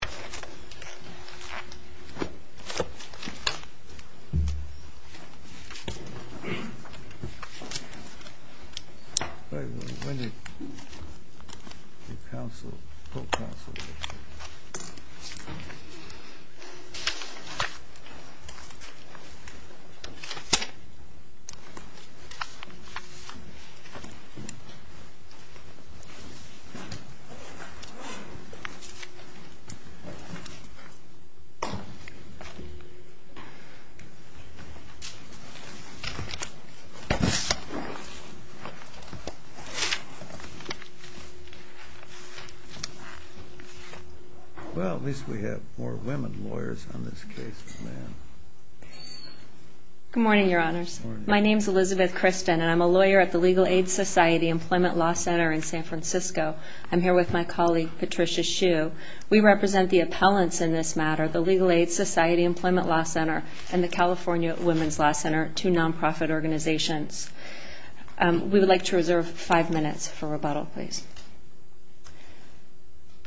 Board Meeting, December 6, audioconferencing Comnik Good morning, Your Honors. My name is Elizabeth Kristen, and I'm a lawyer at the Legal Aid Society Employment Law Center in San Francisco. I'm here with my colleague Patricia Shue. We represent the appellants in this matter, the Legal Aid Society Employment Law Center and the California Women's Law Center, two non-profit organizations. We would like to reserve five minutes for rebuttal, please.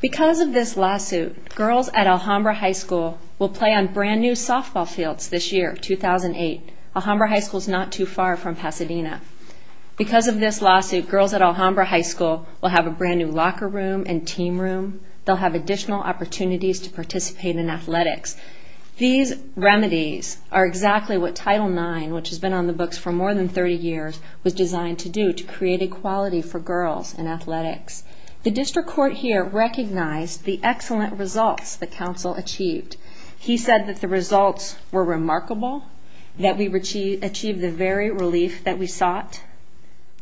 Because of this lawsuit, girls at Alhambra High School will play on brand new softball fields this year, 2008. Alhambra High School is not too far from Pasadena. Because of this lawsuit, girls at Alhambra High School will have a brand new locker room and team room. They'll have additional opportunities to participate in athletics. These remedies are exactly what Title IX, which has been on the books for more than 30 years, was designed to do to create equality for girls in athletics. The district court here recognized the excellent results the counsel achieved. He said that the results were remarkable, that we achieved the very relief that we sought,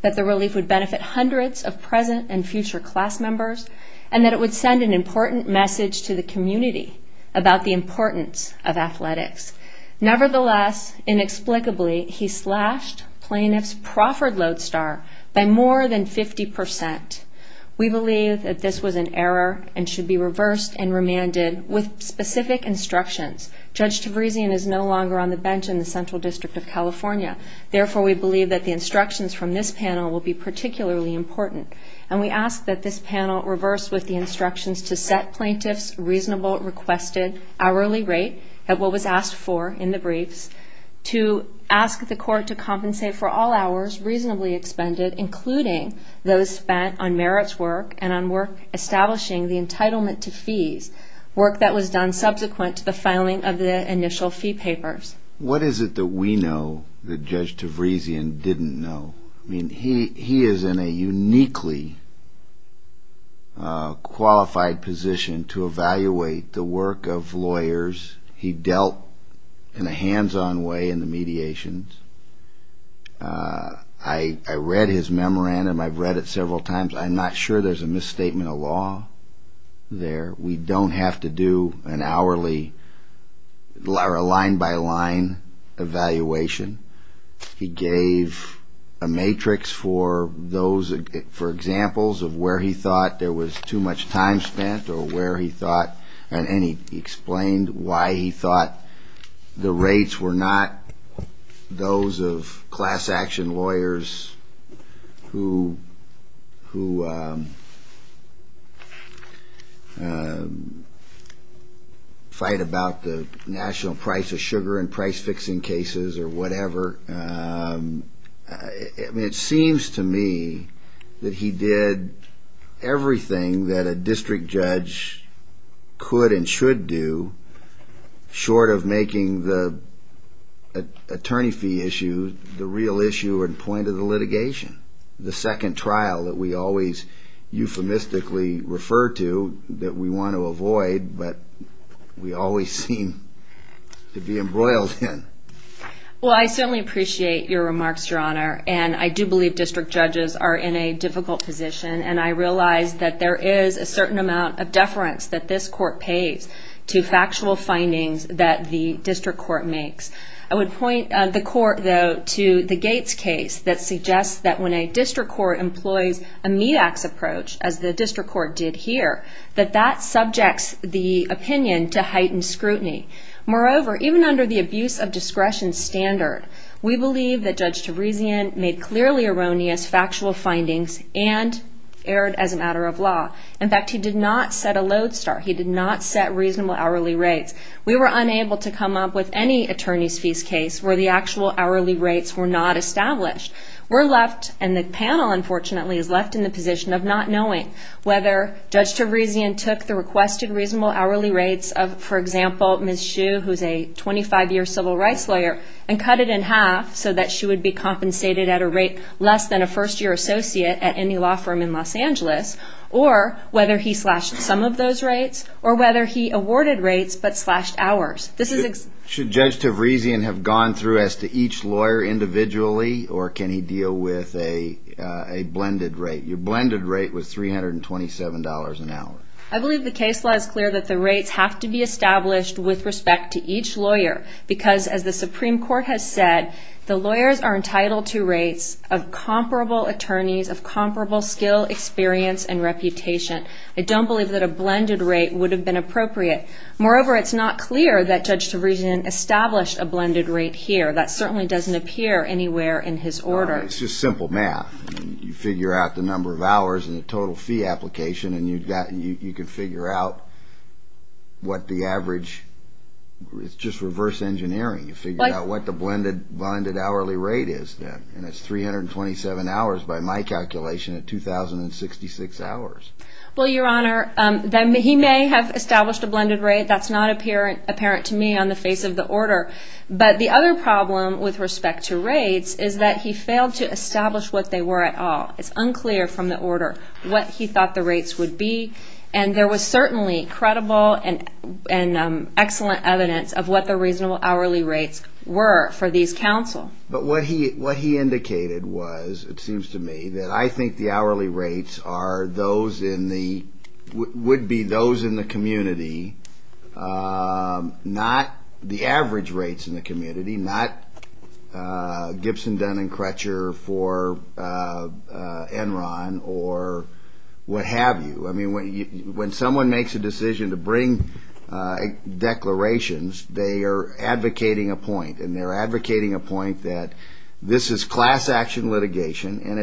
that the relief would benefit hundreds of present and future class members, and that it would send an important message to the community about the importance of athletics. Nevertheless, inexplicably, he slashed plaintiff's proffered load star by more than 50 percent. We believe that this was an error and should be reversed and remanded with specific instructions. Judge Tavrezian is no longer on the bench in the Central District of California. Therefore, we believe that the instructions from this panel will be particularly important. And we ask that this panel reverse with the instructions to set plaintiff's reasonable requested hourly rate at what was asked for in the briefs, to ask the court to compensate for all hours reasonably expended, including those spent on merits work and on work establishing the entitlement to fees, work that was done subsequent to the filing of the initial fee papers. What is it that we know that Judge Tavrezian didn't know? I mean, he is in a uniquely qualified position to evaluate the work of lawyers. He dealt in a hands-on way in the mediations. I read his memorandum. I've read it several times. I'm not sure there's a misstatement in the law there. We don't have to do an hourly or a line-by-line evaluation. He gave a matrix for those, for examples of where he thought there was too much time spent or where he thought, and he explained why he thought the rates were not those of class-action lawyers who fight about the national price of sugar in price-fixing cases or whatever. It seems to me that he did everything that a district judge could and should do, short of making the attorney fee issue the real issue and point of the litigation, the second trial that we always euphemistically refer to, that we want to avoid, but we always seem to be embroiled in. Well, I certainly appreciate your remarks, Your Honor, and I do believe district judges are in a difficult position, and I realize that there is a certain amount of deference that this Court pays to factual findings that the district court makes. I would point the Court, though, to the Gates case that suggests that when a district court employs a meat-ax approach, as the district court did here, that that subjects the opinion to heightened scrutiny. Moreover, even under the abuse of discretion standard, we believe that Judge Tabrizian made clearly erroneous factual findings and erred as a matter of law. In fact, he did not set a lodestar. He did not set reasonable hourly rates. We were unable to come up with any attorneys' fees case where the actual hourly rates were not established. We're left, and the panel, unfortunately, is left in the position of not knowing whether Judge Tabrizian took the requested reasonable hourly rates of, for example, Ms. Hsu, who's a 25-year civil rights lawyer, and cut it in half so that she would be compensated at a rate less than a first-year associate at any law firm in Los Angeles, or whether he slashed some of those rates, or whether he awarded rates but slashed hours. Should Judge Tabrizian have gone through as to each lawyer individually, or can he deal with a blended rate? Your blended rate was $327 an hour. I believe the case law is clear that the rates have to be established with respect to each lawyer because, as the lawyers are entitled to rates of comparable attorneys, of comparable skill, experience, and reputation, I don't believe that a blended rate would have been appropriate. Moreover, it's not clear that Judge Tabrizian established a blended rate here. That certainly doesn't appear anywhere in his order. It's just simple math. You figure out the number of hours and the total fee application, and you can figure out what the average, it's just reverse engineering. You figure out what the blended hourly rate is, and it's 327 hours by my calculation at 2,066 hours. Well, Your Honor, he may have established a blended rate. That's not apparent to me on the face of the order. But the other problem with respect to rates is that he failed to establish what they were at all. It's unclear from the order what he thought the rates would be, and there was certainly credible and excellent evidence of what the reasonable hourly rates were for these counsel. But what he indicated was, it seems to me, that I think the hourly rates are those in the, would be those in the community, not the average rates in the community, not Gibson, Dunn, and Crutcher for Enron or what have you. I mean, that's what I mean. When someone makes a decision to bring declarations, they are advocating a point, and they're advocating a point that this is class action litigation, and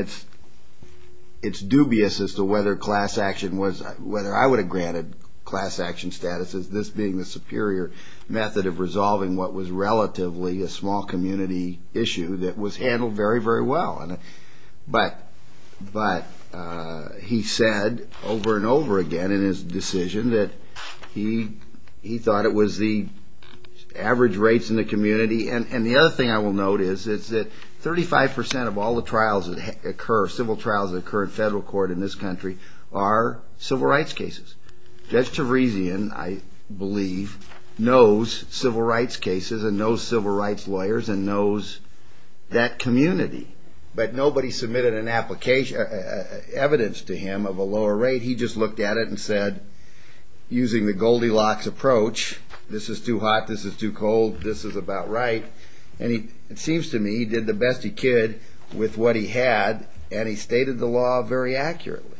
it's dubious as to whether class action was, whether I would have granted class action status as this being the superior method of resolving what was relatively a small community issue that was handled very, very well. But he said over and over again in his decision that he thought it was the average rates in the community. And the other thing I will note is that 35 percent of all the trials that occur, civil trials that occur in federal court in this country are civil rights cases. Judge Tavrezian, I believe, knows civil rights cases and knows that community, but nobody submitted an application, evidence to him of a lower rate. He just looked at it and said, using the Goldilocks approach, this is too hot, this is too cold, this is about right. And it seems to me he did the best he could with what he had, and he stated the law very accurately.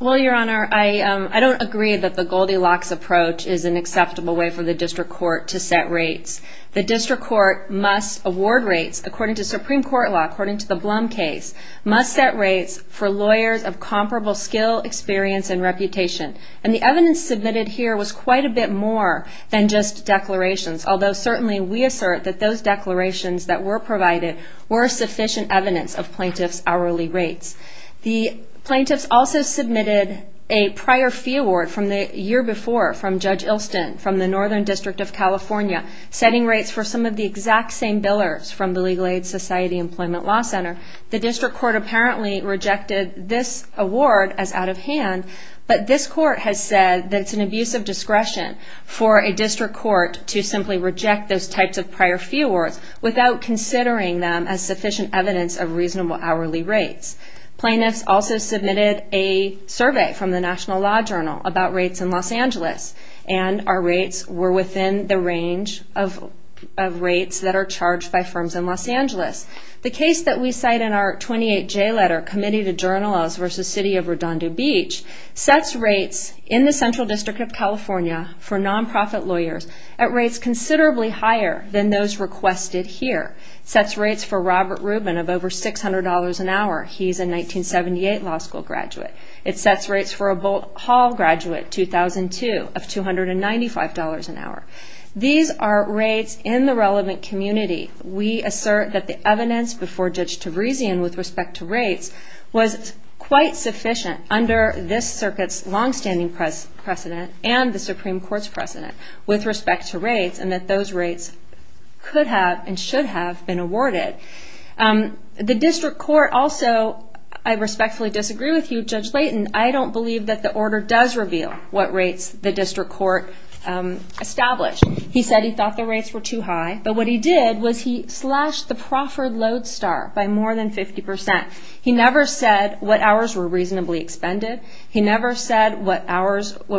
Well, Your Honor, I don't agree that the Goldilocks approach is an acceptable way for the district court to set rates. The district court must award rates, according to Supreme Court law, according to the Blum case, must set rates for lawyers of comparable skill, experience, and reputation. And the evidence submitted here was quite a bit more than just declarations, although certainly we assert that those declarations that were provided were sufficient evidence of plaintiffs' hourly rates. The plaintiffs also submitted a prior fee award from the year before from Judge Ilston from the Northern District of California, setting rates for some of the exact same billers from the Legal Aid Society Employment Law Center. The district court apparently rejected this award as out of hand, but this court has said that it's an abuse of discretion for a district court to simply reject those types of prior fee awards without considering them as sufficient evidence of reasonable hourly rates. Plaintiffs also submitted a survey from the National Law Journal about rates in Los Angeles, and our rates were within the range of rates that are charged by firms in Los Angeles. The case that we cite in our 28J letter, Committee to Journalists v. City of Redondo Beach, sets rates in the Central District of California for nonprofit lawyers at rates considerably higher than those requested here. It sets rates for Robert Rubin of over $600 an hour. He's a 1978 law school graduate. It sets rates for a Bolt Hall graduate, 2002, of $295 an hour. These are rates in the relevant community. We assert that the evidence before Judge Tabrizian with respect to rates was quite sufficient under this circuit's longstanding precedent and the Supreme Court's precedent with respect to rates, and that those rates could have and should have been awarded. The district court also, I respectfully disagree with you, Judge Layton. I don't believe that the order does reveal what rates the district court established. He said he thought the rates were too high, but what he did was he slashed the proffered load star by more than 50%. He never said what hours were reasonably expended. He never said what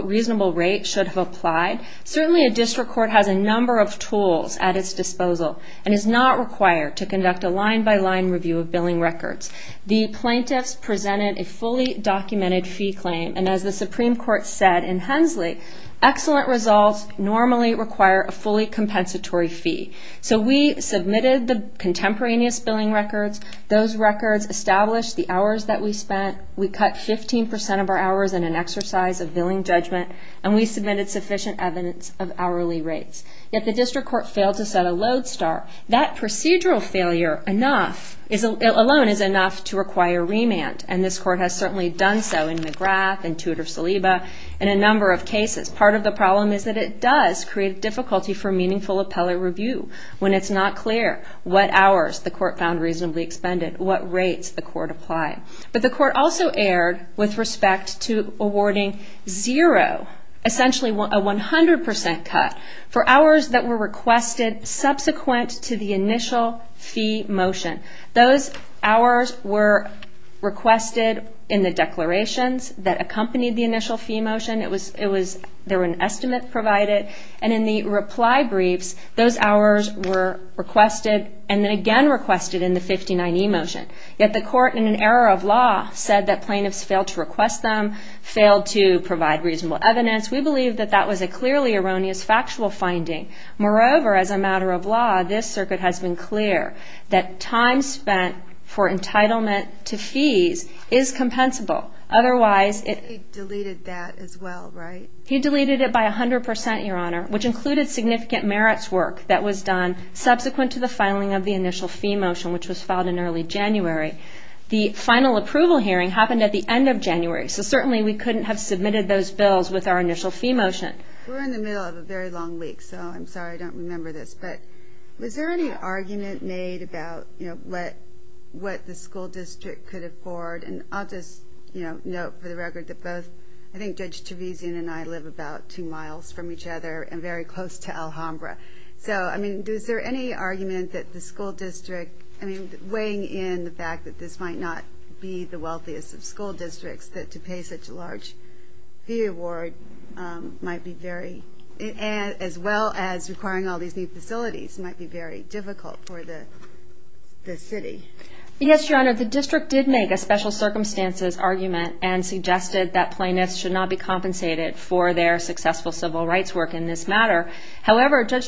reasonable rate should have applied. Certainly a district court has a number of tools at its disposal and is not required to conduct a line-by-line review of billing records. The plaintiffs presented a fully documented fee claim, and as the Supreme Court said in Hensley, excellent results normally require a fully compensatory fee. So we submitted the contemporaneous billing records. Those records established the hours that we spent. We cut 15% of our hours in exercise of billing judgment, and we submitted sufficient evidence of hourly rates. Yet the district court failed to set a load star. That procedural failure alone is enough to require remand, and this court has certainly done so in McGrath, in Tudor-Saliba, in a number of cases. Part of the problem is that it does create difficulty for meaningful appellate review when it's not clear what hours the court found reasonably expended, what rates the court applied. But the court also erred with respect to awarding zero, essentially a 100% cut for hours that were requested subsequent to the initial fee motion. Those hours were requested in the declarations that accompanied the initial fee motion. There was an estimate provided, and in the reply briefs, those hours were requested and then again requested in the 59E motion. Yet the court, in an error of law, said that plaintiffs failed to request them, failed to provide reasonable evidence. We believe that that was a clearly erroneous factual finding. Moreover, as a matter of law, this circuit has been clear that time spent for entitlement to fees is compensable. Otherwise, it... He deleted that as well, right? He deleted it by 100%, Your Honor, which included significant merits work that was done subsequent to the filing of the initial fee motion, which was filed in early January. The final approval hearing happened at the end of January, so certainly we couldn't have submitted those bills with our initial fee motion. We're in the middle of a very long week, so I'm sorry I don't remember this, but was there any argument made about what the school district could afford? And I'll just note for the record that both, I think Judge Trevesian and I live about two miles from each other and very close to Alhambra. So, I mean, is there any argument that the school district... I mean, weighing in the fact that this might not be the wealthiest of school districts, that to pay such a large fee award might be very... as well as requiring all these new facilities might be very difficult for the city. Yes, Your Honor, the district did make a special circumstances argument and suggested that However, Judge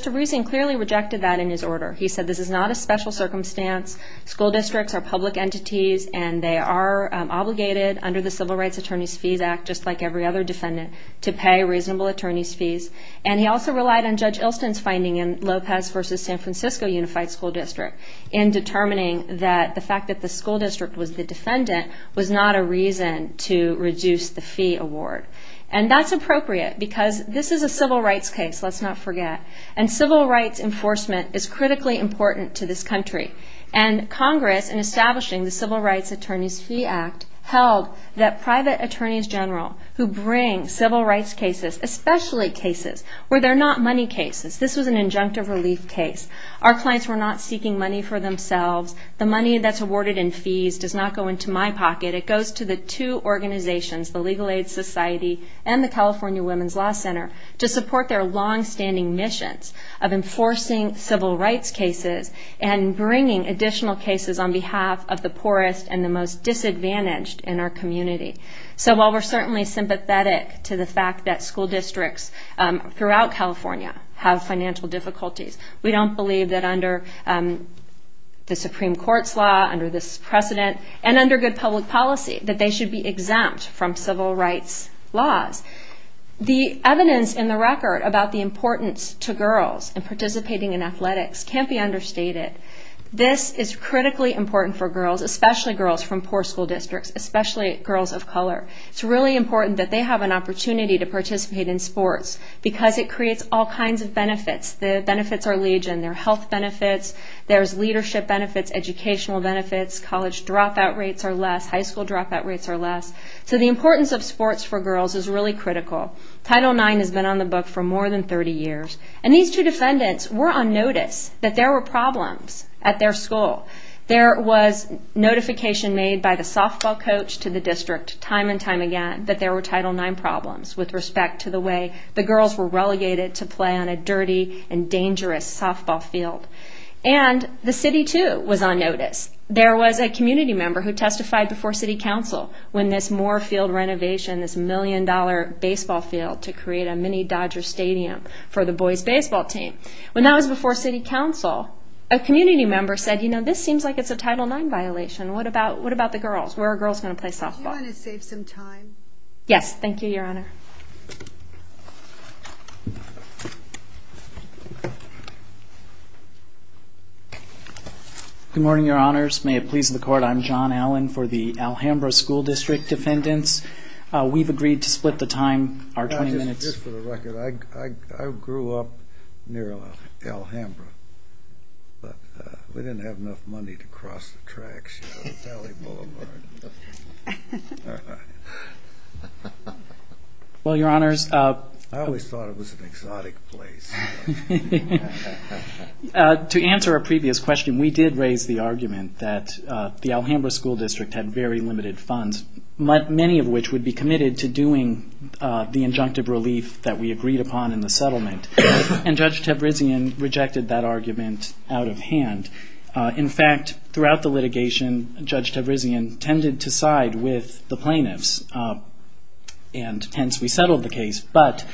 Trevesian clearly rejected that in his order. He said this is not a special circumstance. School districts are public entities and they are obligated under the Civil Rights Attorneys' Fees Act, just like every other defendant, to pay reasonable attorney's fees. And he also relied on Judge Ilston's finding in Lopez v. San Francisco Unified School District in determining that the fact that the school district was the defendant was not a reason to reduce the fee award. And that's appropriate because this is a civil rights case, let's not forget. And civil rights enforcement is critically important to this country. And Congress, in establishing the Civil Rights Attorneys' Fee Act, held that private attorneys general who bring civil rights cases, especially cases where they're not money cases. This was an injunctive relief case. Our clients were not seeking money for themselves. The money that's awarded in fees does not go into my pocket. It goes to the two organizations, the Legal Aid Society and the California Women's Law Center, to support their longstanding missions of enforcing civil rights cases and bringing additional cases on behalf of the poorest and the most disadvantaged in our community. So while we're certainly sympathetic to the fact that school districts throughout California have financial difficulties, we don't believe that under the Supreme Court's law, under this precedent, and under good public policy, that they should be exempt from civil rights laws. The evidence in the record about the importance to girls in participating in athletics can't be understated. This is critically important for girls, especially girls from poor school districts, especially girls of color. It's really important that they have an opportunity to participate in sports because it creates all kinds of benefits. The benefits are legion. There are health benefits. Dropout rates are less. High school dropout rates are less. So the importance of sports for girls is really critical. Title IX has been on the book for more than 30 years. And these two defendants were on notice that there were problems at their school. There was notification made by the softball coach to the district time and time again that there were Title IX problems with respect to the way the girls were relegated to play on a dirty and dangerous softball field. And the city, too, was on notice. There was a community member who testified before city council when this Moore Field renovation, this million dollar baseball field, to create a mini Dodger Stadium for the boys' baseball team. When that was before city council, a community member said, you know, this seems like it's a Title IX violation. What about the girls? Where are girls going to play softball? Do you want to save some time? Yes. Thank you, Your Honor. Good morning, Your Honors. May it please the Court, I'm John Allen for the Alhambra School District Defendants. We've agreed to split the time, our 20 minutes. Just for the record, I grew up near Alhambra, but we didn't have enough money to cross the border. I always thought it was an exotic place. To answer a previous question, we did raise the argument that the Alhambra School District had very limited funds, many of which would be committed to doing the injunctive relief that we agreed upon in the settlement. And Judge Tabrizian rejected that argument out of hand. In fact, throughout the litigation, Judge Tabrizian tended to side with the plaintiffs and hence we settled the case. But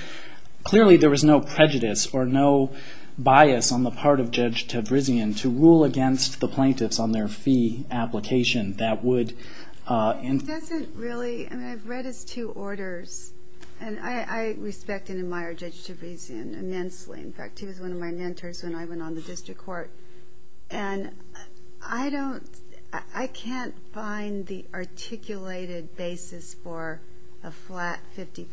clearly there was no prejudice or no bias on the part of Judge Tabrizian to rule against the plaintiffs on their fee application that would... It doesn't really... I mean, I've read his two orders and I respect and admire Judge Tabrizian immensely. In fact, he was one of my mentors when I went on the district court. And I don't... I can't find the articulated basis for a flat 50%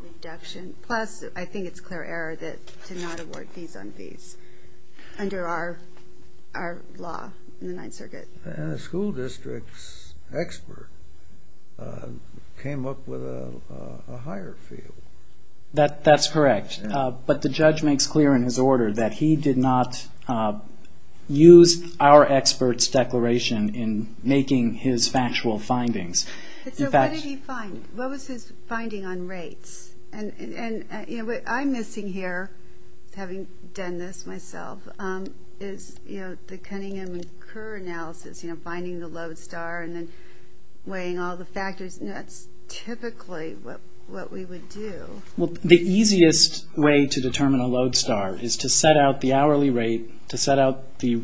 reduction. Plus, I think it's clear error to not award fees on fees under our law in the Ninth Circuit. And the school district's expert came up with a higher fee. That's correct. But the judge makes clear in his order that he did not use our expert's declaration in making his factual findings. So what did he find? What was his finding on rates? And what I'm missing here, having done this myself, is the Cunningham and Kerr analysis, finding the lodestar and then weighing all the factors. That's typically what we would do. Well, the easiest way to determine a lodestar is to set out the hourly rate, to set out the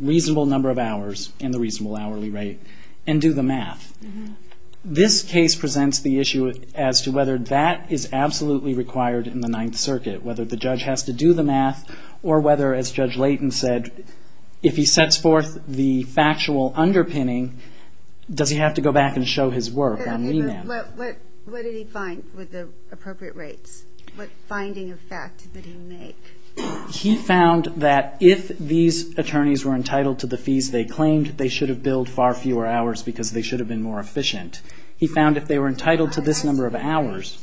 reasonable number of hours and the reasonable hourly rate and do the math. This case presents the issue as to whether that is absolutely required in the Ninth Circuit. Whether the judge has to do the math or whether, as Judge Layton said, if he sets forth the factual underpinning, does he have to go back and show his work on renaming? Okay, but what did he find with the appropriate rates? What finding of fact did he make? He found that if these attorneys were entitled to the fees they claimed, they should have billed far fewer hours because they should have been more efficient. He found if they were entitled to this number of hours,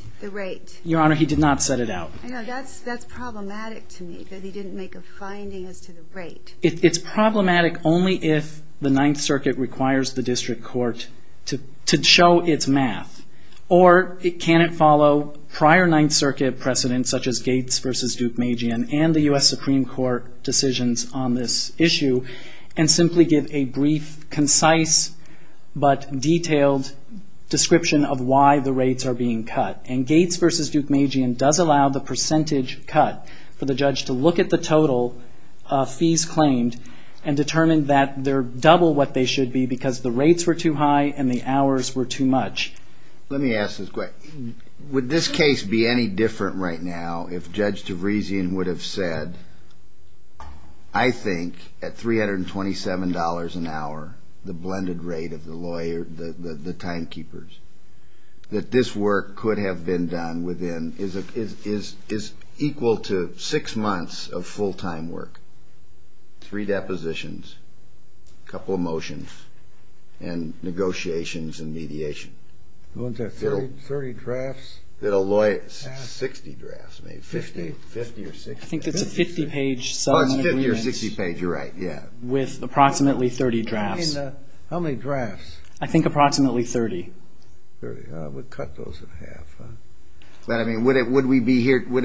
Your Honor, he did not set it out. I know. That's problematic to me that he didn't make a finding as to the rate. It's problematic only if the Ninth Circuit requires the district court to show its math. Or can it follow prior Ninth Circuit precedents such as Gates v. Duke Magian and the U.S. Supreme Court decisions on this issue and simply give a brief, concise, but detailed description of why the rates are being cut? Gates v. Duke Magian does allow the percentage cut for the judge to look at the total fees claimed and determine that they're double what they should be because the rates were too high and the hours were too much. Let me ask this question. Would this case be any different right now if Judge DeVriesian would have said, I think, at $327 an hour, the blended rate of the timekeepers, that this work could have been done within, is equal to six months of full-time work, three depositions, a couple of motions, and negotiations and mediation? What was that, 30 drafts? That a lawyer, 60 drafts, maybe, 50 or 60. I think that's a 50-page settlement agreement. Oh, 50 or 60 page, you're right, yeah. With approximately 30 drafts. How many drafts? I think approximately 30. 30, I would cut those in half. But I mean, would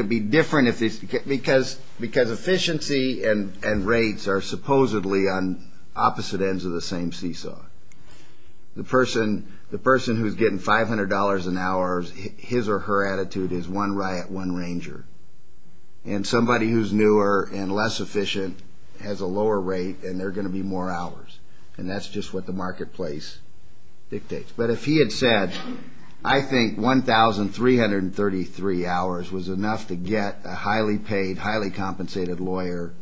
it be different if this, because efficiency and rates are supposedly on opposite ends of the same seesaw. The person who's getting $500 an hour, his or her attitude is one riot, one ranger. And somebody who's newer and less efficient has a lower rate and they're going to be more hours. And that's just what the marketplace dictates. But if he had said, I think 1,333 hours was enough to get a highly paid, highly compensated lawyer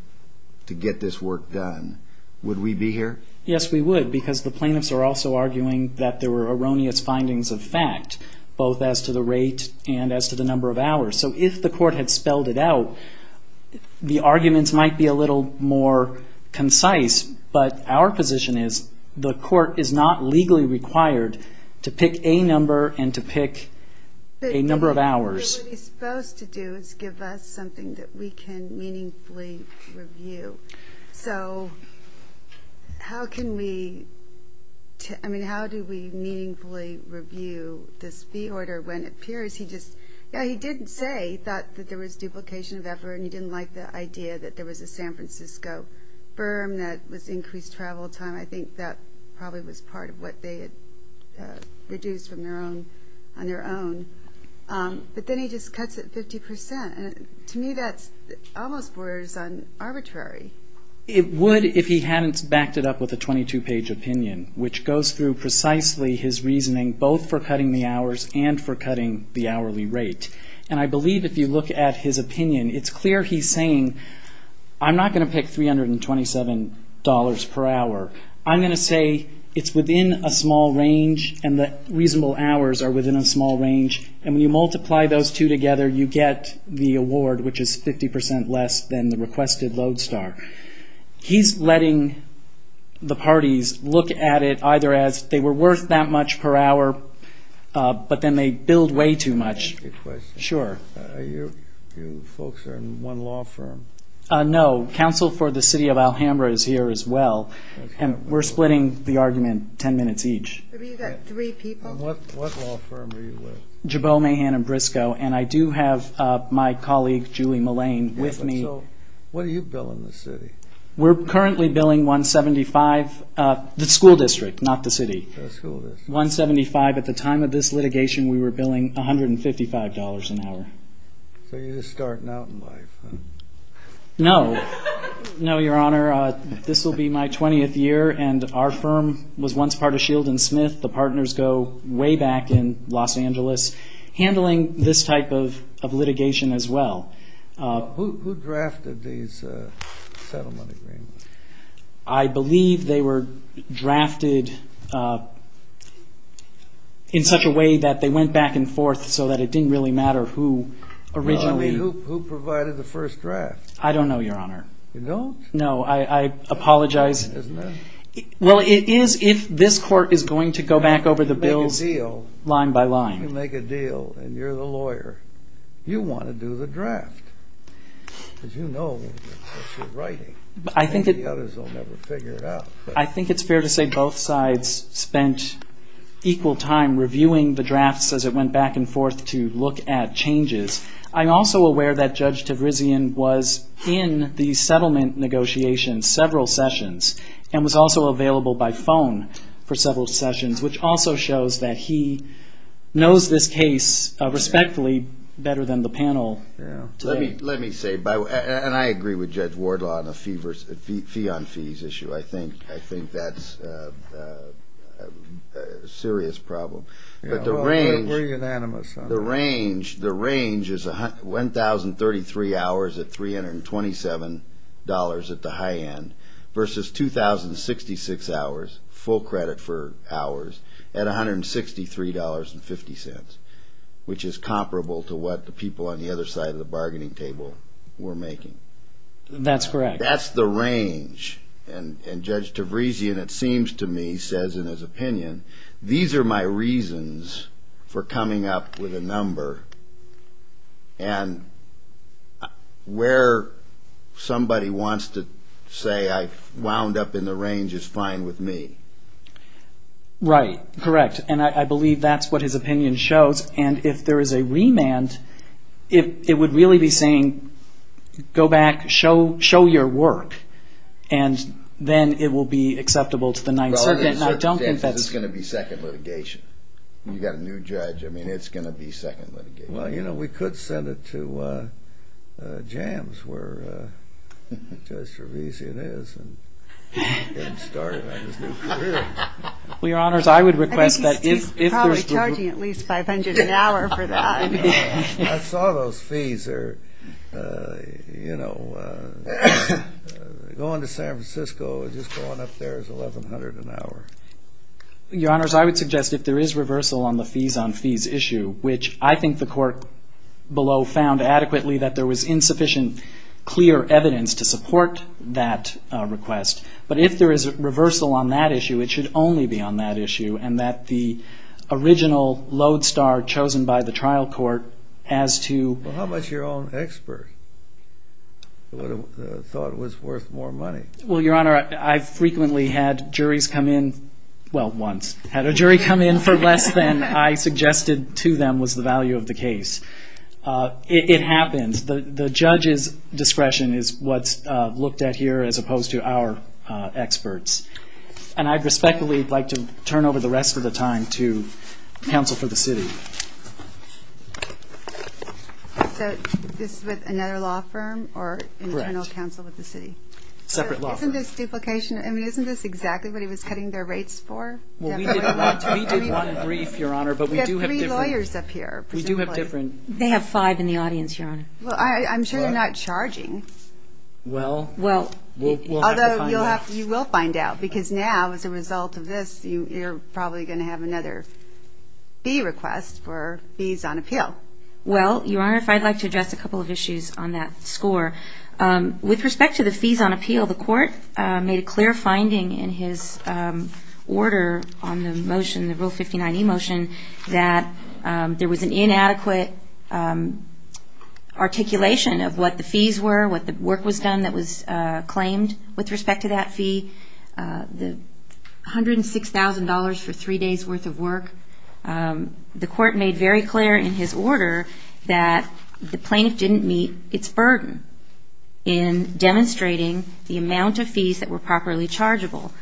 to get this work done, would we be here? Yes, we would, because the plaintiffs are also arguing that there were erroneous findings of fact, both as to the rate and as to the number of hours. So if the court had spelled it out, the arguments might be a little more concise. But our position is, the court is not legally required to pick a number and to pick a number of hours. But what he's supposed to do is give us something that we can meaningfully review. So how can we, I mean, how do we meaningfully review this fee order when it appears he just, yeah, he did say that there was duplication of effort and he didn't like the idea that there was a San Francisco firm that was increased travel time. I think that probably was part of what they had reduced on their own. But then he just cuts it 50%. To me, that almost borders on arbitrary. It would if he hadn't backed it up with a 22-page opinion, which goes through precisely his reasoning, both for cutting the hours and for cutting the hourly rate. And I believe if you look at his opinion, it's clear he's saying, I'm not going to pick $327 per hour. I'm going to say it's within a small range and the reasonable hours are within a small range. And when you multiply those two together, you get the award, which is 50% less than the requested load star. He's letting the parties look at it either as they were worth that much per hour, but then they billed way too much. I have a question. You folks are in one law firm. No, counsel for the city of Alhambra is here as well. And we're splitting the argument 10 minutes each. But you've got three people? What law firm are you with? Jabot, Mahan & Briscoe. And I do have my colleague, Julie Mullane, with me. So what are you billing the city? We're currently billing 175, the school district, not the city. The school district. At the time of this litigation, we were billing $155 an hour. So you're just starting out in life, huh? No. No, Your Honor. This will be my 20th year. And our firm was once part of Shield & Smith. The partners go way back in Los Angeles handling this type of litigation as well. Who drafted these settlement agreements? I believe they were drafted in such a way that they went back and forth so that it didn't really matter who originally... I mean, who provided the first draft? I don't know, Your Honor. You don't? No. I apologize. Isn't that... Well, it is if this court is going to go back over the bills line by line. You make a deal, and you're the lawyer. You want to do the draft. Because you know what you're writing. I think it's fair to say both sides spent equal time reviewing the drafts as it went back and forth to look at changes. I'm also aware that Judge Tavrizian was in the settlement negotiations several sessions and was also available by phone for several sessions, which also shows that he knows this case respectfully better than the panel today. Let me say, and I agree with Judge Wardlaw on the fee-on-fees issue. I think that's a serious problem. Yeah. But the range... We're unanimous on that. The range is 1,033 hours at $327 at the high end versus 2,066 hours, full credit for hours, at $163.50, which is comparable to what the people on the other side of the bargaining table were making. That's correct. That's the range. And Judge Tavrizian, it seems to me, says in his opinion, these are my reasons for coming up with a number. And where somebody wants to say I wound up in the range is fine with me. Right. Correct. And I believe that's what his opinion shows. And if there is a remand, it would really be saying, go back, show your work, and then it will be acceptable to the Ninth Circuit. Well, in certain cases, it's going to be second litigation. You've got a new judge. I mean, it's going to be second litigation. Well, you know, we could send it to Jams, where Judge Tavrizian is, and get him started on his new career. Well, Your Honors, I would request that if there's... I think he's probably charging at least $500 an hour for that. I saw those fees. Going to San Francisco, just going up there is $1,100 an hour. Your Honors, I would suggest if there is reversal on the fees on fees issue, which I think the court below found adequately that there was insufficient clear evidence to support that request. But if there is a reversal on that issue, it should only be on that issue, and that the original lodestar chosen by the trial court as to... Well, how much your own expert thought was worth more money? Well, Your Honor, I frequently had juries come in... Well, once. Had a jury come in for less than I suggested to them was the value of the case. It happens. The judge's value is different as opposed to our experts. And I'd respectfully like to turn over the rest of the time to counsel for the city. So, this is with another law firm or an internal counsel with the city? Correct. Separate law firm. So, isn't this duplication? I mean, isn't this exactly what he was cutting their rates for? Well, we did one brief, Your Honor, but we do have different... We have three lawyers up here, presumably. We do have different... They have five in the audience, Your Honor. Well, I'm sure they're not charging. Well, we'll have to find out. Although, you will find out, because now, as a result of this, you're probably going to have another fee request for fees on appeal. Well, Your Honor, if I'd like to address a couple of issues on that score. With respect to the fees on appeal, the court made a clear finding in his order on the motion, the Rule 1, inadequate articulation of what the fees were, what the work was done that was claimed with respect to that fee, the $106,000 for three days' worth of work. The court made very clear in his order that the plaintiff didn't meet its burden in demonstrating the amount of fees that were properly chargeable.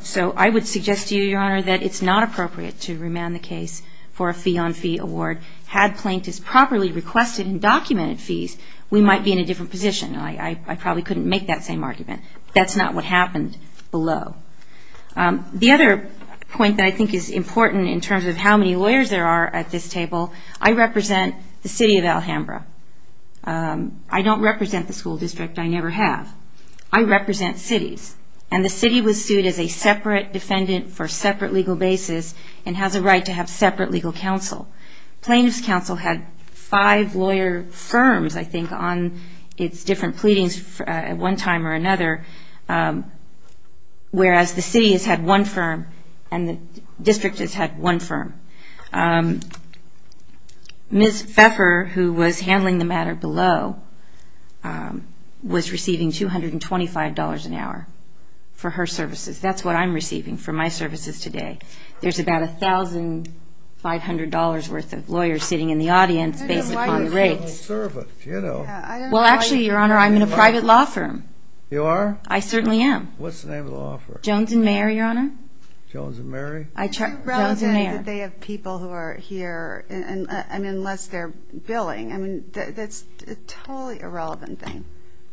So I would suggest to you, Your Honor, that it's not appropriate to remand the case for a fee-on-fee award. Had plaintiffs properly requested and documented fees, we might be in a different position. I probably couldn't make that same argument. That's not what happened below. The other point that I think is important in terms of how many lawyers there are at this table, I represent the city of Alhambra. I don't represent the school district. I never have. I represent cities. And the city was sued as a separate defendant for a separate legal basis and has a right to have separate legal counsel. Plaintiffs' counsel had five lawyer firms, I think, on its different pleadings at one time or another, whereas the city has had one firm and the district has had one firm. Ms. Pfeffer, who was handling the matter below, was receiving $225 an hour for her services. That's what I'm receiving for my services today. There's about $1,500 worth of lawyers sitting in the audience based upon the rates. I'm a civil servant, you know. Well, actually, Your Honor, I'm in a private law firm. You are? I certainly am. What's the name of the law firm? Jones and Mayer, Your Honor. Jones and Mayer? Jones and Mayer. Is it irrelevant that they have people who are here, unless they're billing? I mean, that's a totally irrelevant thing.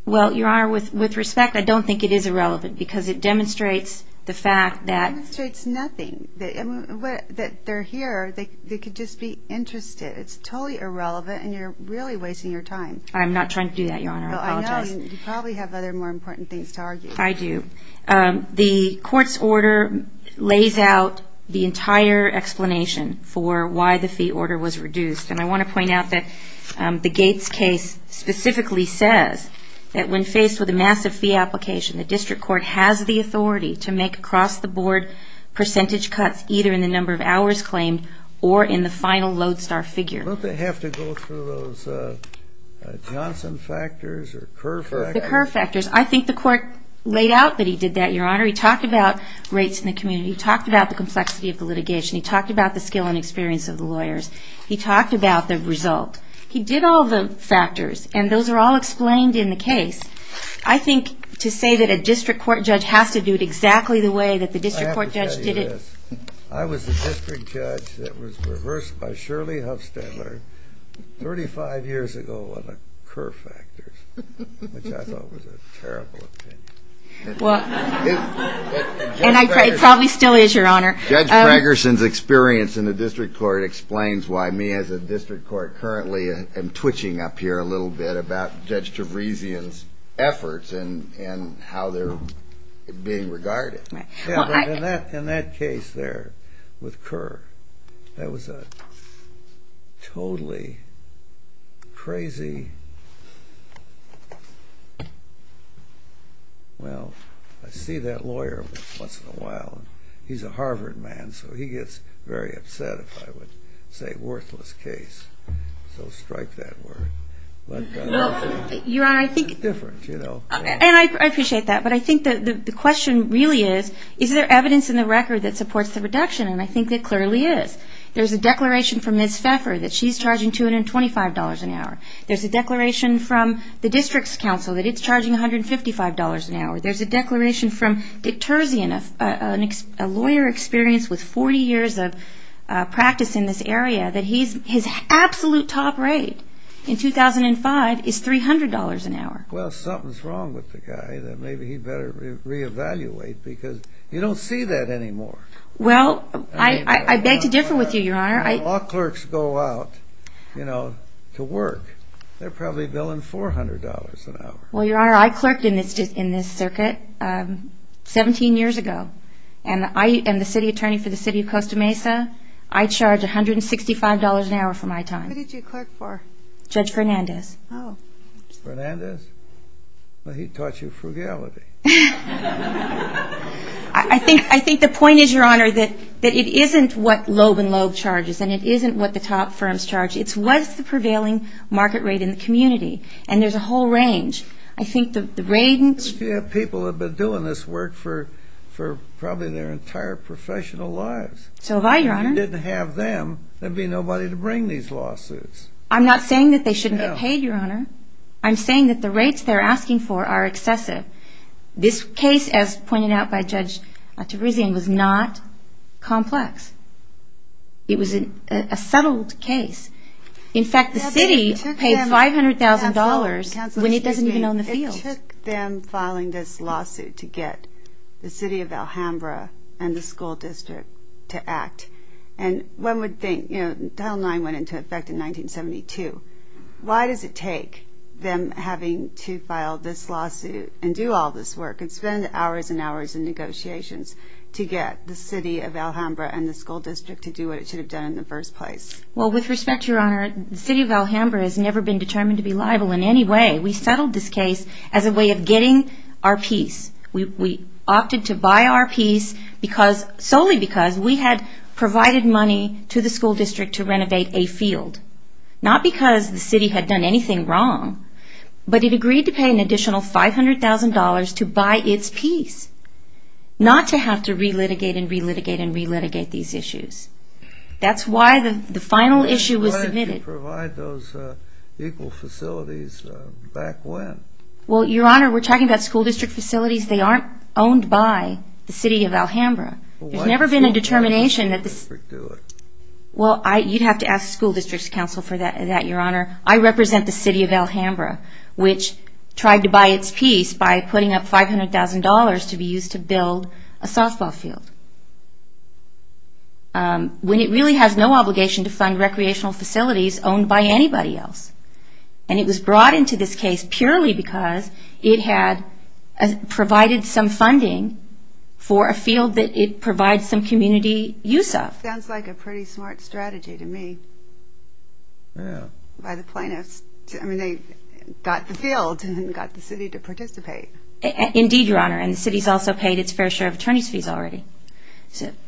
Well, Your Honor, with respect, I don't think it is irrelevant because it demonstrates the fact that It demonstrates nothing. That they're here, they could just be interested. It's totally irrelevant and you're really wasting your time. I'm not trying to do that, Your Honor. I apologize. I know. You probably have other more important things to argue. I do. The court's order lays out the entire explanation for why the fee order was reduced and I want to point out that the Gates case specifically says that when faced with a massive fee application, the district court has the authority to make across-the-board percentage cuts either in the number of hours claimed or in the final lodestar figure. Don't they have to go through those Johnson factors or Kerr factors? The Kerr factors. I think the court laid out that he did that, Your Honor. He talked about rates in the community. He talked about the complexity of the litigation. He talked about the skill and experience of the lawyers. He talked about the result. He did all the factors and those are all explained in the case. I think to say that a district court judge has to do it exactly the way that the district court judge did it I have to tell you this. I was the district judge that was reversed by Shirley Huffstadler thirty-five years ago on the Kerr factors, which I thought was a terrible opinion. And I think it probably still is, Your Honor. Judge Gregersen's experience in the district court explains why me as a district court currently am twitching up here a little bit about Judge Tavresian's efforts and how they're being regarded. In that case there with Kerr, that was a totally crazy, well, I see that lawyer once in a while. He's a Harvard man, so he gets very upset if I would say worthless case. So strike that word. Well, Your Honor, I think It's different, you know. And I appreciate that. But I think the question really is, is there evidence in the record that supports the reduction? And I think there clearly is. There's a declaration from Ms. Pfeffer that she's charging $225 an hour. There's a declaration from the district's counsel that it's charging $155 an hour. There's a declaration from Dick Terzian, a lawyer experienced with 40 years of practice in this area, that his absolute top rate in 2005 is $300 an hour. Well, something's wrong with the guy. Maybe he better reevaluate because you don't see that anymore. Well, I beg to differ with you, Your Honor. All clerks go out, you know, to work. They're probably billing $400 an hour. Well, Your Honor, I clerked in this circuit 17 years ago. And I am the city attorney for the city of Costa Mesa. I charge $165 an hour for my time. Who did you clerk for? Judge Fernandez. Oh. Fernandez? Well, he taught you frugality. I think the point is, Your Honor, that it isn't what Loeb and Loeb charges and it isn't what the top firms charge. It's what's the prevailing market rate in the community. And there's a whole range. I think the range... Yeah, people have been doing this work for probably their entire professional lives. So have I, Your Honor. If you didn't have them, there'd be nobody to bring these lawsuits. I'm not saying that they shouldn't get paid, Your Honor. I'm saying that the rates they're paying are excessive. This case, as pointed out by Judge Tabrizian, was not complex. It was a settled case. In fact, the city paid $500,000 when it doesn't even own the field. It took them filing this lawsuit to get the city of Alhambra and the school district to act. And one would think, you know, Title IX went into effect in 1972. Why does it take them having to file this lawsuit and do all this work and spend hours and hours in negotiations to get the city of Alhambra and the school district to do what it should have done in the first place? Well, with respect, Your Honor, the city of Alhambra has never been determined to be liable in any way. We settled this case as a way of getting our peace. We opted to buy our peace solely because we had provided money to the school district to renovate a field. Not because the city had done anything wrong, but it agreed to pay an additional $500,000 to buy its peace, not to have to re-litigate and re-litigate and re-litigate these issues. That's why the final issue was submitted. Why did you provide those equal facilities back when? Well, Your Honor, we're talking about school district facilities. They aren't owned by the city of Alhambra. There's never been a determination that the school district... I represent the city of Alhambra, which tried to buy its peace by putting up $500,000 to be used to build a softball field, when it really has no obligation to fund recreational facilities owned by anybody else. It was brought into this case purely because it had provided some funding for a field that it provides some community use of. That sounds like a pretty smart strategy to me, by the plaintiffs. I mean, they got the field and got the city to participate. Indeed, Your Honor, and the city's also paid its fair share of attorney's fees already.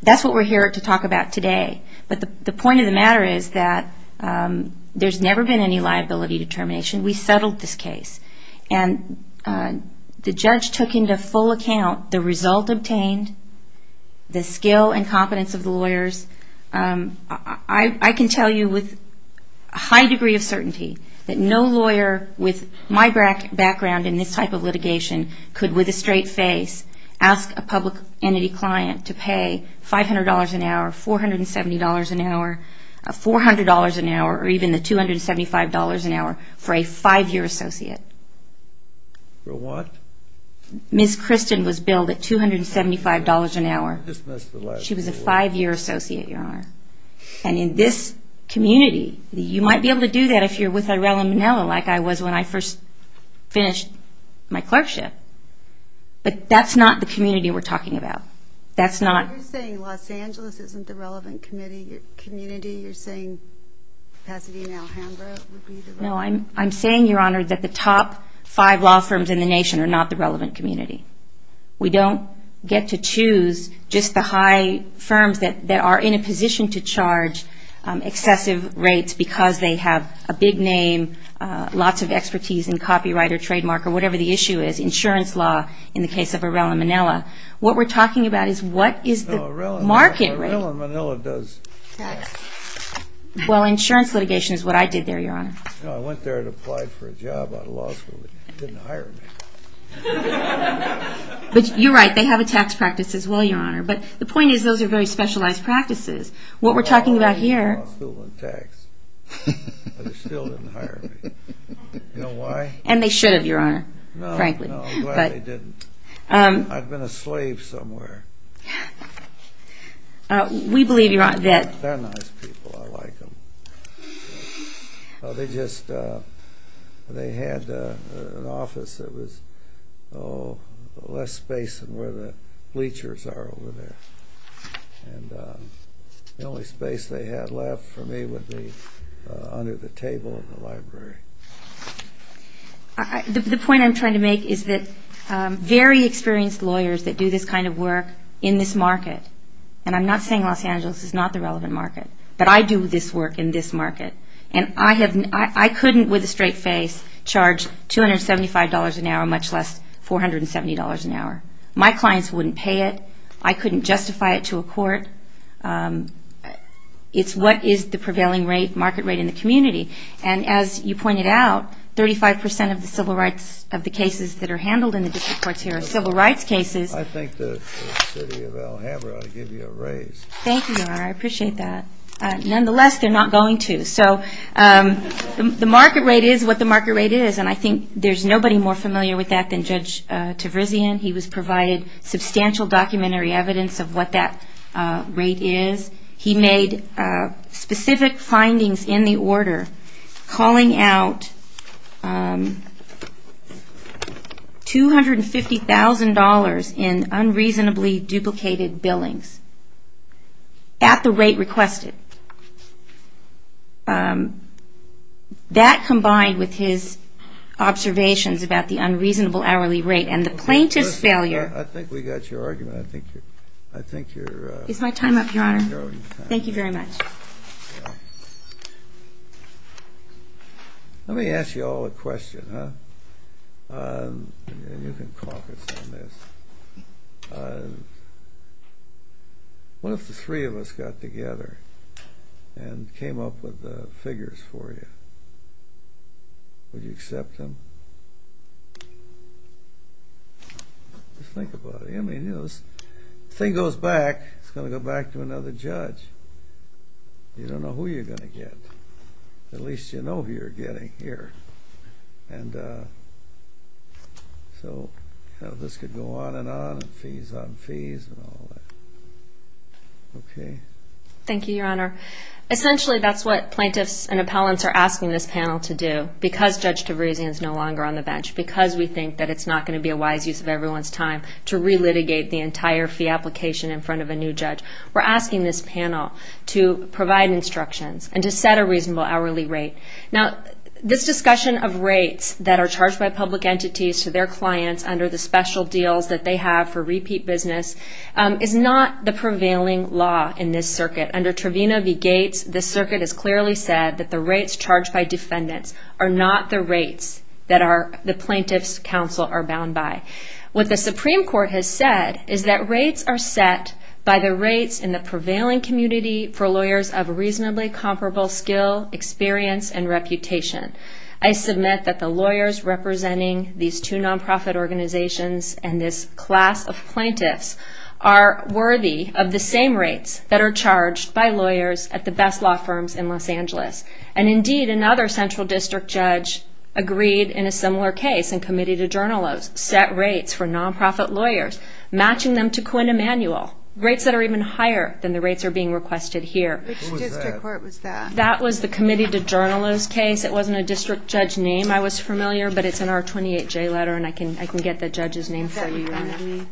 That's what we're here to talk about today, but the point of the matter is that there's never been any liability determination. We settled this case, and the judge took into full account the result obtained, the skill and competence of the lawyers. I can tell you with a high degree of certainty that no lawyer with my background in this type of litigation could, with a straight face, ask a public entity client to pay $500 an hour, $470 an hour, $400 an hour, or even the $275 an hour for a five-year associate. For what? Ms. Kristen was billed at $275 an hour. I just missed the last one. She was a five-year associate, Your Honor. And in this community, you might be able to do that if you're with Irela Menela like I was when I first finished my clerkship, but that's not the community we're talking about. That's not... You're saying Los Angeles isn't the relevant community. You're saying Pasadena, Alhambra would be the relevant community. No, I'm saying, Your Honor, that the top five law firms in the nation are not the relevant community. We don't get to choose just the high firms that are in a position to charge excessive rates because they have a big name, lots of expertise in copyright or trademark or whatever the issue is, insurance law, in the case of Irela Menela. What we're talking about is what is the market rate... No, Irela Menela does... Well, insurance litigation is what I did there, Your Honor. No, I went there and applied for a job out of law school, but they didn't hire me. But you're right, they have a tax practice as well, Your Honor, but the point is those are very specialized practices. What we're talking about here... I went to law school on tax, but they still didn't hire me. You know why? And they should have, Your Honor, frankly. No, no, I'm glad they didn't. I've been a slave somewhere. We believe, Your Honor, that... They're nice people. I like them. They just... They had an office that was, oh, less space than where the bleachers are over there. And the only space they had left for me would be under the table of the library. The point I'm trying to make is that very experienced lawyers that do this kind of work in this market, and I'm not saying Los Angeles is not the relevant market, but I do this work in this market. And I couldn't, with a straight face, charge $275 an hour, much less $470 an hour. My clients wouldn't pay it. I couldn't justify it to a court. It's what is the prevailing market rate in the community. And as you pointed out, 35% of the civil rights... of the cases that are handled in the district courts here are civil rights cases. I think the city of Alhambra ought to give you a raise. Thank you, Your Honor. I appreciate that. Nonetheless, they're not going to. So the market rate is what the market rate is, and I think there's nobody more familiar with that than Judge Tavrizian. He provided substantial documentary evidence of what that rate is. He made specific findings in the order, calling out $250,000 in unreasonably duplicated billings at the rate requested. That combined with his observations about the unreasonable hourly rate and the plaintiff's failure... I think we got your argument. I think you're... Is my time up, Your Honor? Thank you very much. Let me ask you all a question, huh? And you can caucus on this. What if the three of us got together and came up with figures for you? Would you accept them? Just think about it. I mean, you know, this thing goes back, it's going to go back to another judge. You don't know who you're going to get. At least you know who you're getting here. And so this could go on and on and fees on fees and all that. Okay? Thank you, Your Honor. Essentially, that's what plaintiffs and appellants are asking this panel to do because Judge Tavrazian is no longer on the bench, because we think that it's not going to be a wise use of everyone's time to re-litigate the entire fee application in front of a new judge. We're asking this panel to provide instructions and to set a reasonable hourly rate. Now, this discussion of rates that are charged by public entities to their clients under the special deals that they have for repeat business is not the prevailing law in this circuit. Under Trevino v. Gates, this circuit has clearly said that the rates charged by defendants are not the rates that the plaintiffs' counsel are bound by. What the Supreme Court has said is that rates are set by the rates in the prevailing community for lawyers of reasonably comparable skill, experience, and reputation. I submit that the lawyers representing these two nonprofit organizations and this class of plaintiffs are worthy of the same rates that are charged by lawyers at the best law firms in Los Angeles. And indeed, another central district judge agreed in a similar case in Committee to Journalists, set rates for nonprofit lawyers, matching them to Quinn Emanuel, rates that are even higher than the rates that are being requested here. Which district court was that? That was the Committee to Journalists case. It wasn't a district judge name I was familiar with, but it's in our 28J letter, and I can get the judge's name for you.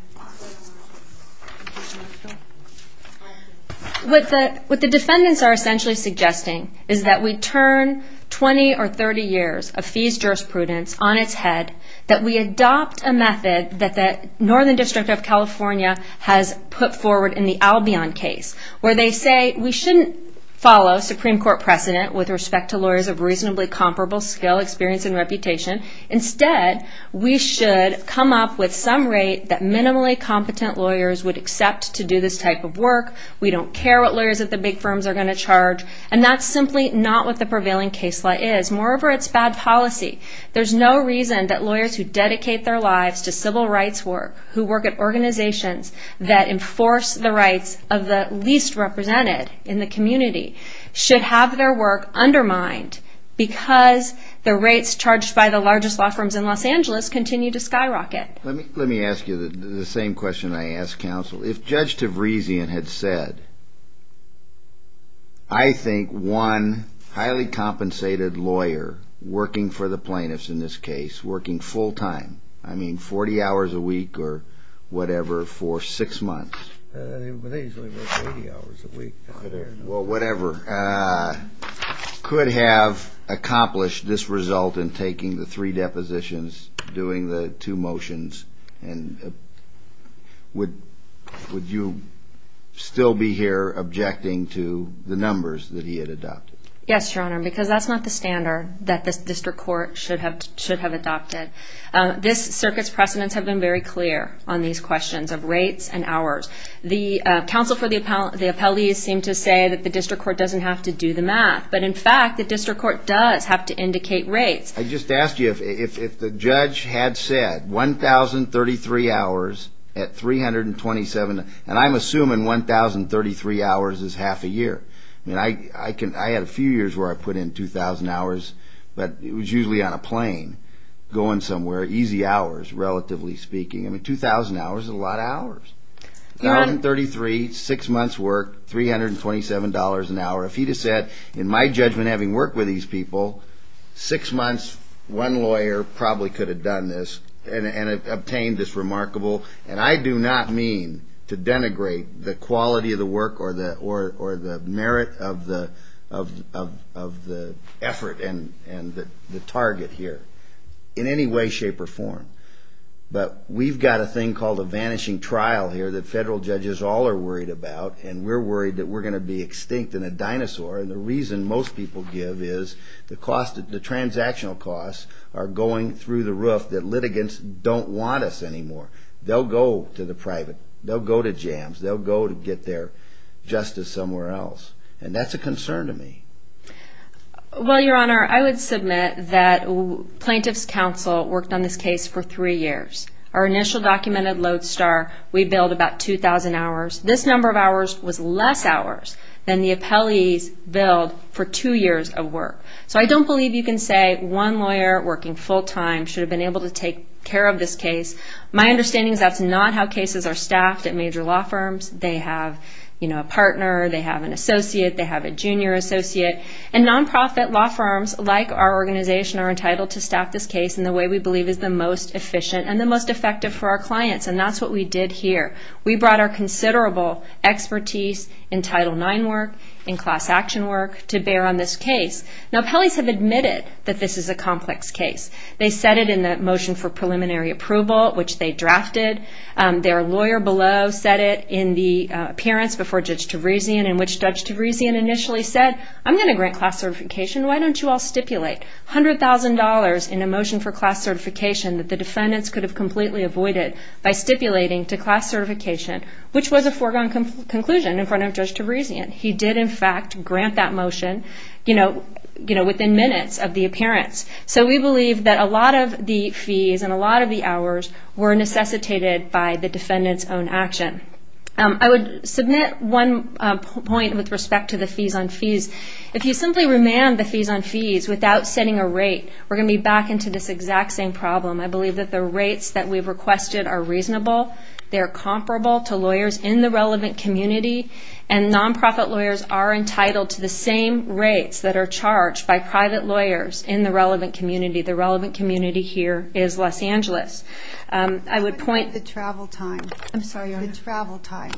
What the defendants are essentially suggesting is that we turn 20 or 30 years of fees jurisprudence on its head, that we adopt a method that the Northern District of California has put forward in the Albion case, where they say we shouldn't follow Supreme Court precedent with respect to lawyers of reasonably comparable skill, experience, and reputation. Instead, we should come up with some rate that minimally competent lawyers would accept to do this type of work. We don't care what lawyers at the big firms are going to charge. And that's simply not what the prevailing case law is. Moreover, it's bad policy. There's no reason that lawyers who dedicate their lives to civil rights work, who work at organizations that enforce the rights of the least represented in the community, should have their work undermined because the rates charged by the largest law firms in Los Angeles continue to skyrocket. Let me ask you the same question I asked counsel. If Judge Tavrezian had said, I think one highly compensated lawyer working for the plaintiffs in this case, working full-time, I mean 40 hours a week or whatever, for six months... They usually work 80 hours a week. Well, whatever, could have accomplished this result in taking the three depositions, doing the two motions, and would you still be here objecting to the numbers that he had adopted? Yes, Your Honor, because that's not the standard that this district court should have adopted. This circuit's precedents have been very clear on these questions of rates and hours. The counsel for the appellees seemed to say that the district court doesn't have to do the math, but in fact the district court does have to indicate rates. I just asked you if the judge had said 1,033 hours at 327... And I'm assuming 1,033 hours is half a year. I mean, I had a few years where I put in 2,000 hours, but it was usually on a plane going somewhere, easy hours, relatively speaking. I mean, 2,000 hours is a lot of hours. 1,033, six months' work, $327 an hour. If he'd have said, in my judgment, having worked with these people, six months, one lawyer probably could have done this and obtained this remarkable... And I do not mean to denigrate the quality of the work or the merit in any way, shape, or form. But we've got a thing called a vanishing trial here that federal judges all are worried about, and we're worried that we're going to be extinct and a dinosaur, and the reason most people give is the transactional costs are going through the roof that litigants don't want us anymore. They'll go to the private, they'll go to jams, they'll go to get their justice somewhere else. And that's a concern to me. Well, Your Honor, I would submit that our initial documented load star, we billed about 2,000 hours. This number of hours was less hours than the appellees billed for two years of work. So I don't believe you can say one lawyer working full-time should have been able to take care of this case. My understanding is that's not how cases are staffed at major law firms. They have a partner, they have an associate, they have a junior associate. And non-profit law firms, like our organization, are entitled to staff this case in the way we believe is the most efficient and the most effective for our clients. And that's what we did here. We brought our considerable expertise in Title IX work, in class action work, to bear on this case. Now, appellees have admitted that this is a complex case. They said it in the motion for preliminary approval, which they drafted. Their lawyer below said it in the appearance before Judge Tabrizian, in which Judge Tabrizian initially said, I'm going to grant class certification, why don't you all stipulate? $100,000 in a motion for class certification that the defendants could have completely avoided by stipulating to class certification, which was a foregone conclusion in front of Judge Tabrizian. He did, in fact, grant that motion within minutes of the appearance. So we believe that a lot of the fees and a lot of the hours were necessitated by the defendant's own action. I would submit one point with respect to the fees on fees. If you simply remand the fees on fees without setting a rate, we're going to be back into this exact same problem. I believe that the rates that we've requested are reasonable, they're comparable to lawyers in the relevant community, and nonprofit lawyers are entitled to the same rates that are charged by private lawyers in the relevant community. The relevant community here is Los Angeles. I would point... How about the travel time? I'm sorry, Your Honor. The travel time.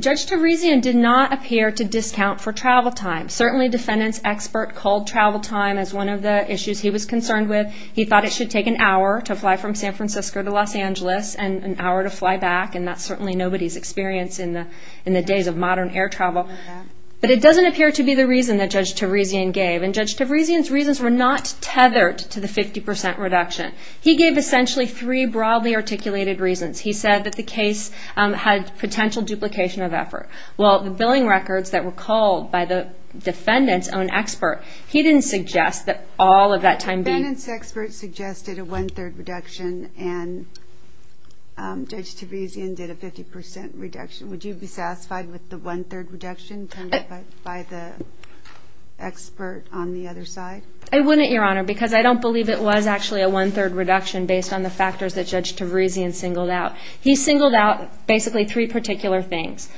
Judge Tabrizian did not appear to discount for travel time. Certainly, defendant's expert called travel time as one of the issues he was concerned with. He thought it should take an hour to fly from San Francisco to Los Angeles and an hour to fly back, and that's certainly nobody's experience in the days of modern air travel. But it doesn't appear to be the reason that Judge Tabrizian gave, and Judge Tabrizian's reasons were not tethered to the 50% reduction. He gave essentially three broadly articulated reasons. He said that the case had potential duplication of effort. Well, the billing records that were called by the defendant's own expert, he didn't suggest that all of that time being... The defendant's expert suggested a one-third reduction, and Judge Tabrizian did a 50% reduction. Would you be satisfied with the one-third reduction by the expert on the other side? I wouldn't, Your Honor, because I don't believe it was actually a one-third reduction based on the factors that Judge Tabrizian singled out. He singled out basically three particular things,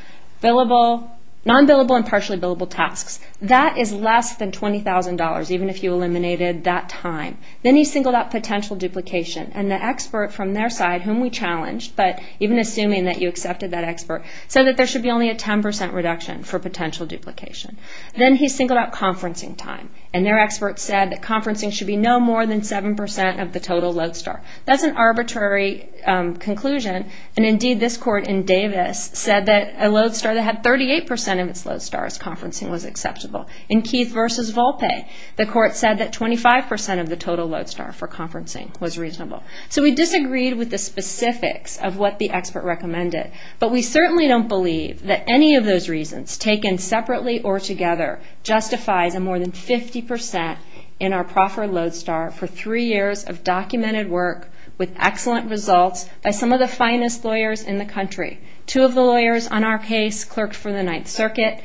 non-billable and partially billable tasks. That is less than $20,000, even if you eliminated that time. Then he singled out potential duplication, and the expert from their side, whom we challenged, but even assuming that you accepted that expert, said that there should be only a 10% reduction for potential duplication. Then he singled out conferencing time, and their expert said that conferencing should be no more than 7% of the total lodestar. That's an arbitrary conclusion, and indeed this court in Davis said that a lodestar that had 38% of its lodestars conferencing was acceptable. In Keith v. Volpe, the court said that 25% of the total lodestar for conferencing was reasonable. So we disagreed with the specifics of what the expert recommended, but we certainly don't believe that any of those reasons, taken separately or together, justifies a more than 50% in our proffer lodestar for three years of documented work with excellent results by some of the finest lawyers in the country. Two of the lawyers on our case clerked for the Ninth Circuit.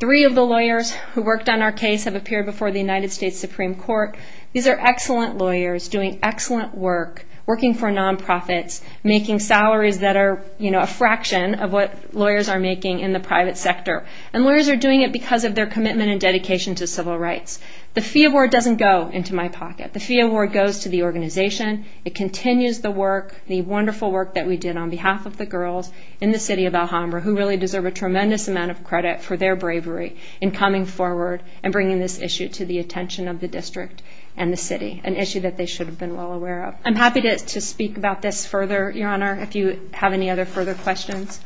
Three of the lawyers who worked on our case have appeared before the United States Supreme Court. These are excellent lawyers doing excellent work, working for non-profits, making salaries that are a fraction of what lawyers are making in the private sector. And lawyers are doing it because of their commitment and dedication to civil rights. The Fee Award doesn't go into my pocket. The Fee Award goes to the organization. It continues the work, the wonderful work that we did on behalf of the girls in the city of Alhambra who really deserve a tremendous amount of credit for their bravery in coming forward and bringing this issue to the attention of the district and the city, an issue that they should have been well aware of. I'm happy to speak about this further, Your Honor, if you have any other further questions.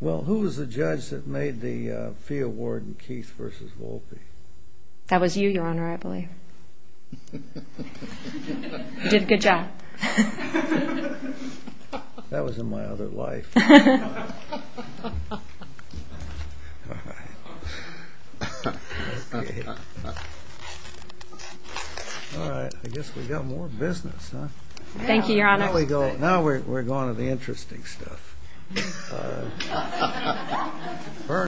Well, who was the judge that made the Fee Award in Keith v. Volpe? That was you, Your Honor, I believe. You did a good job. That was in my other life. All right, I guess we've got more business, huh? Thank you, Your Honor. Now we're going to the interesting stuff.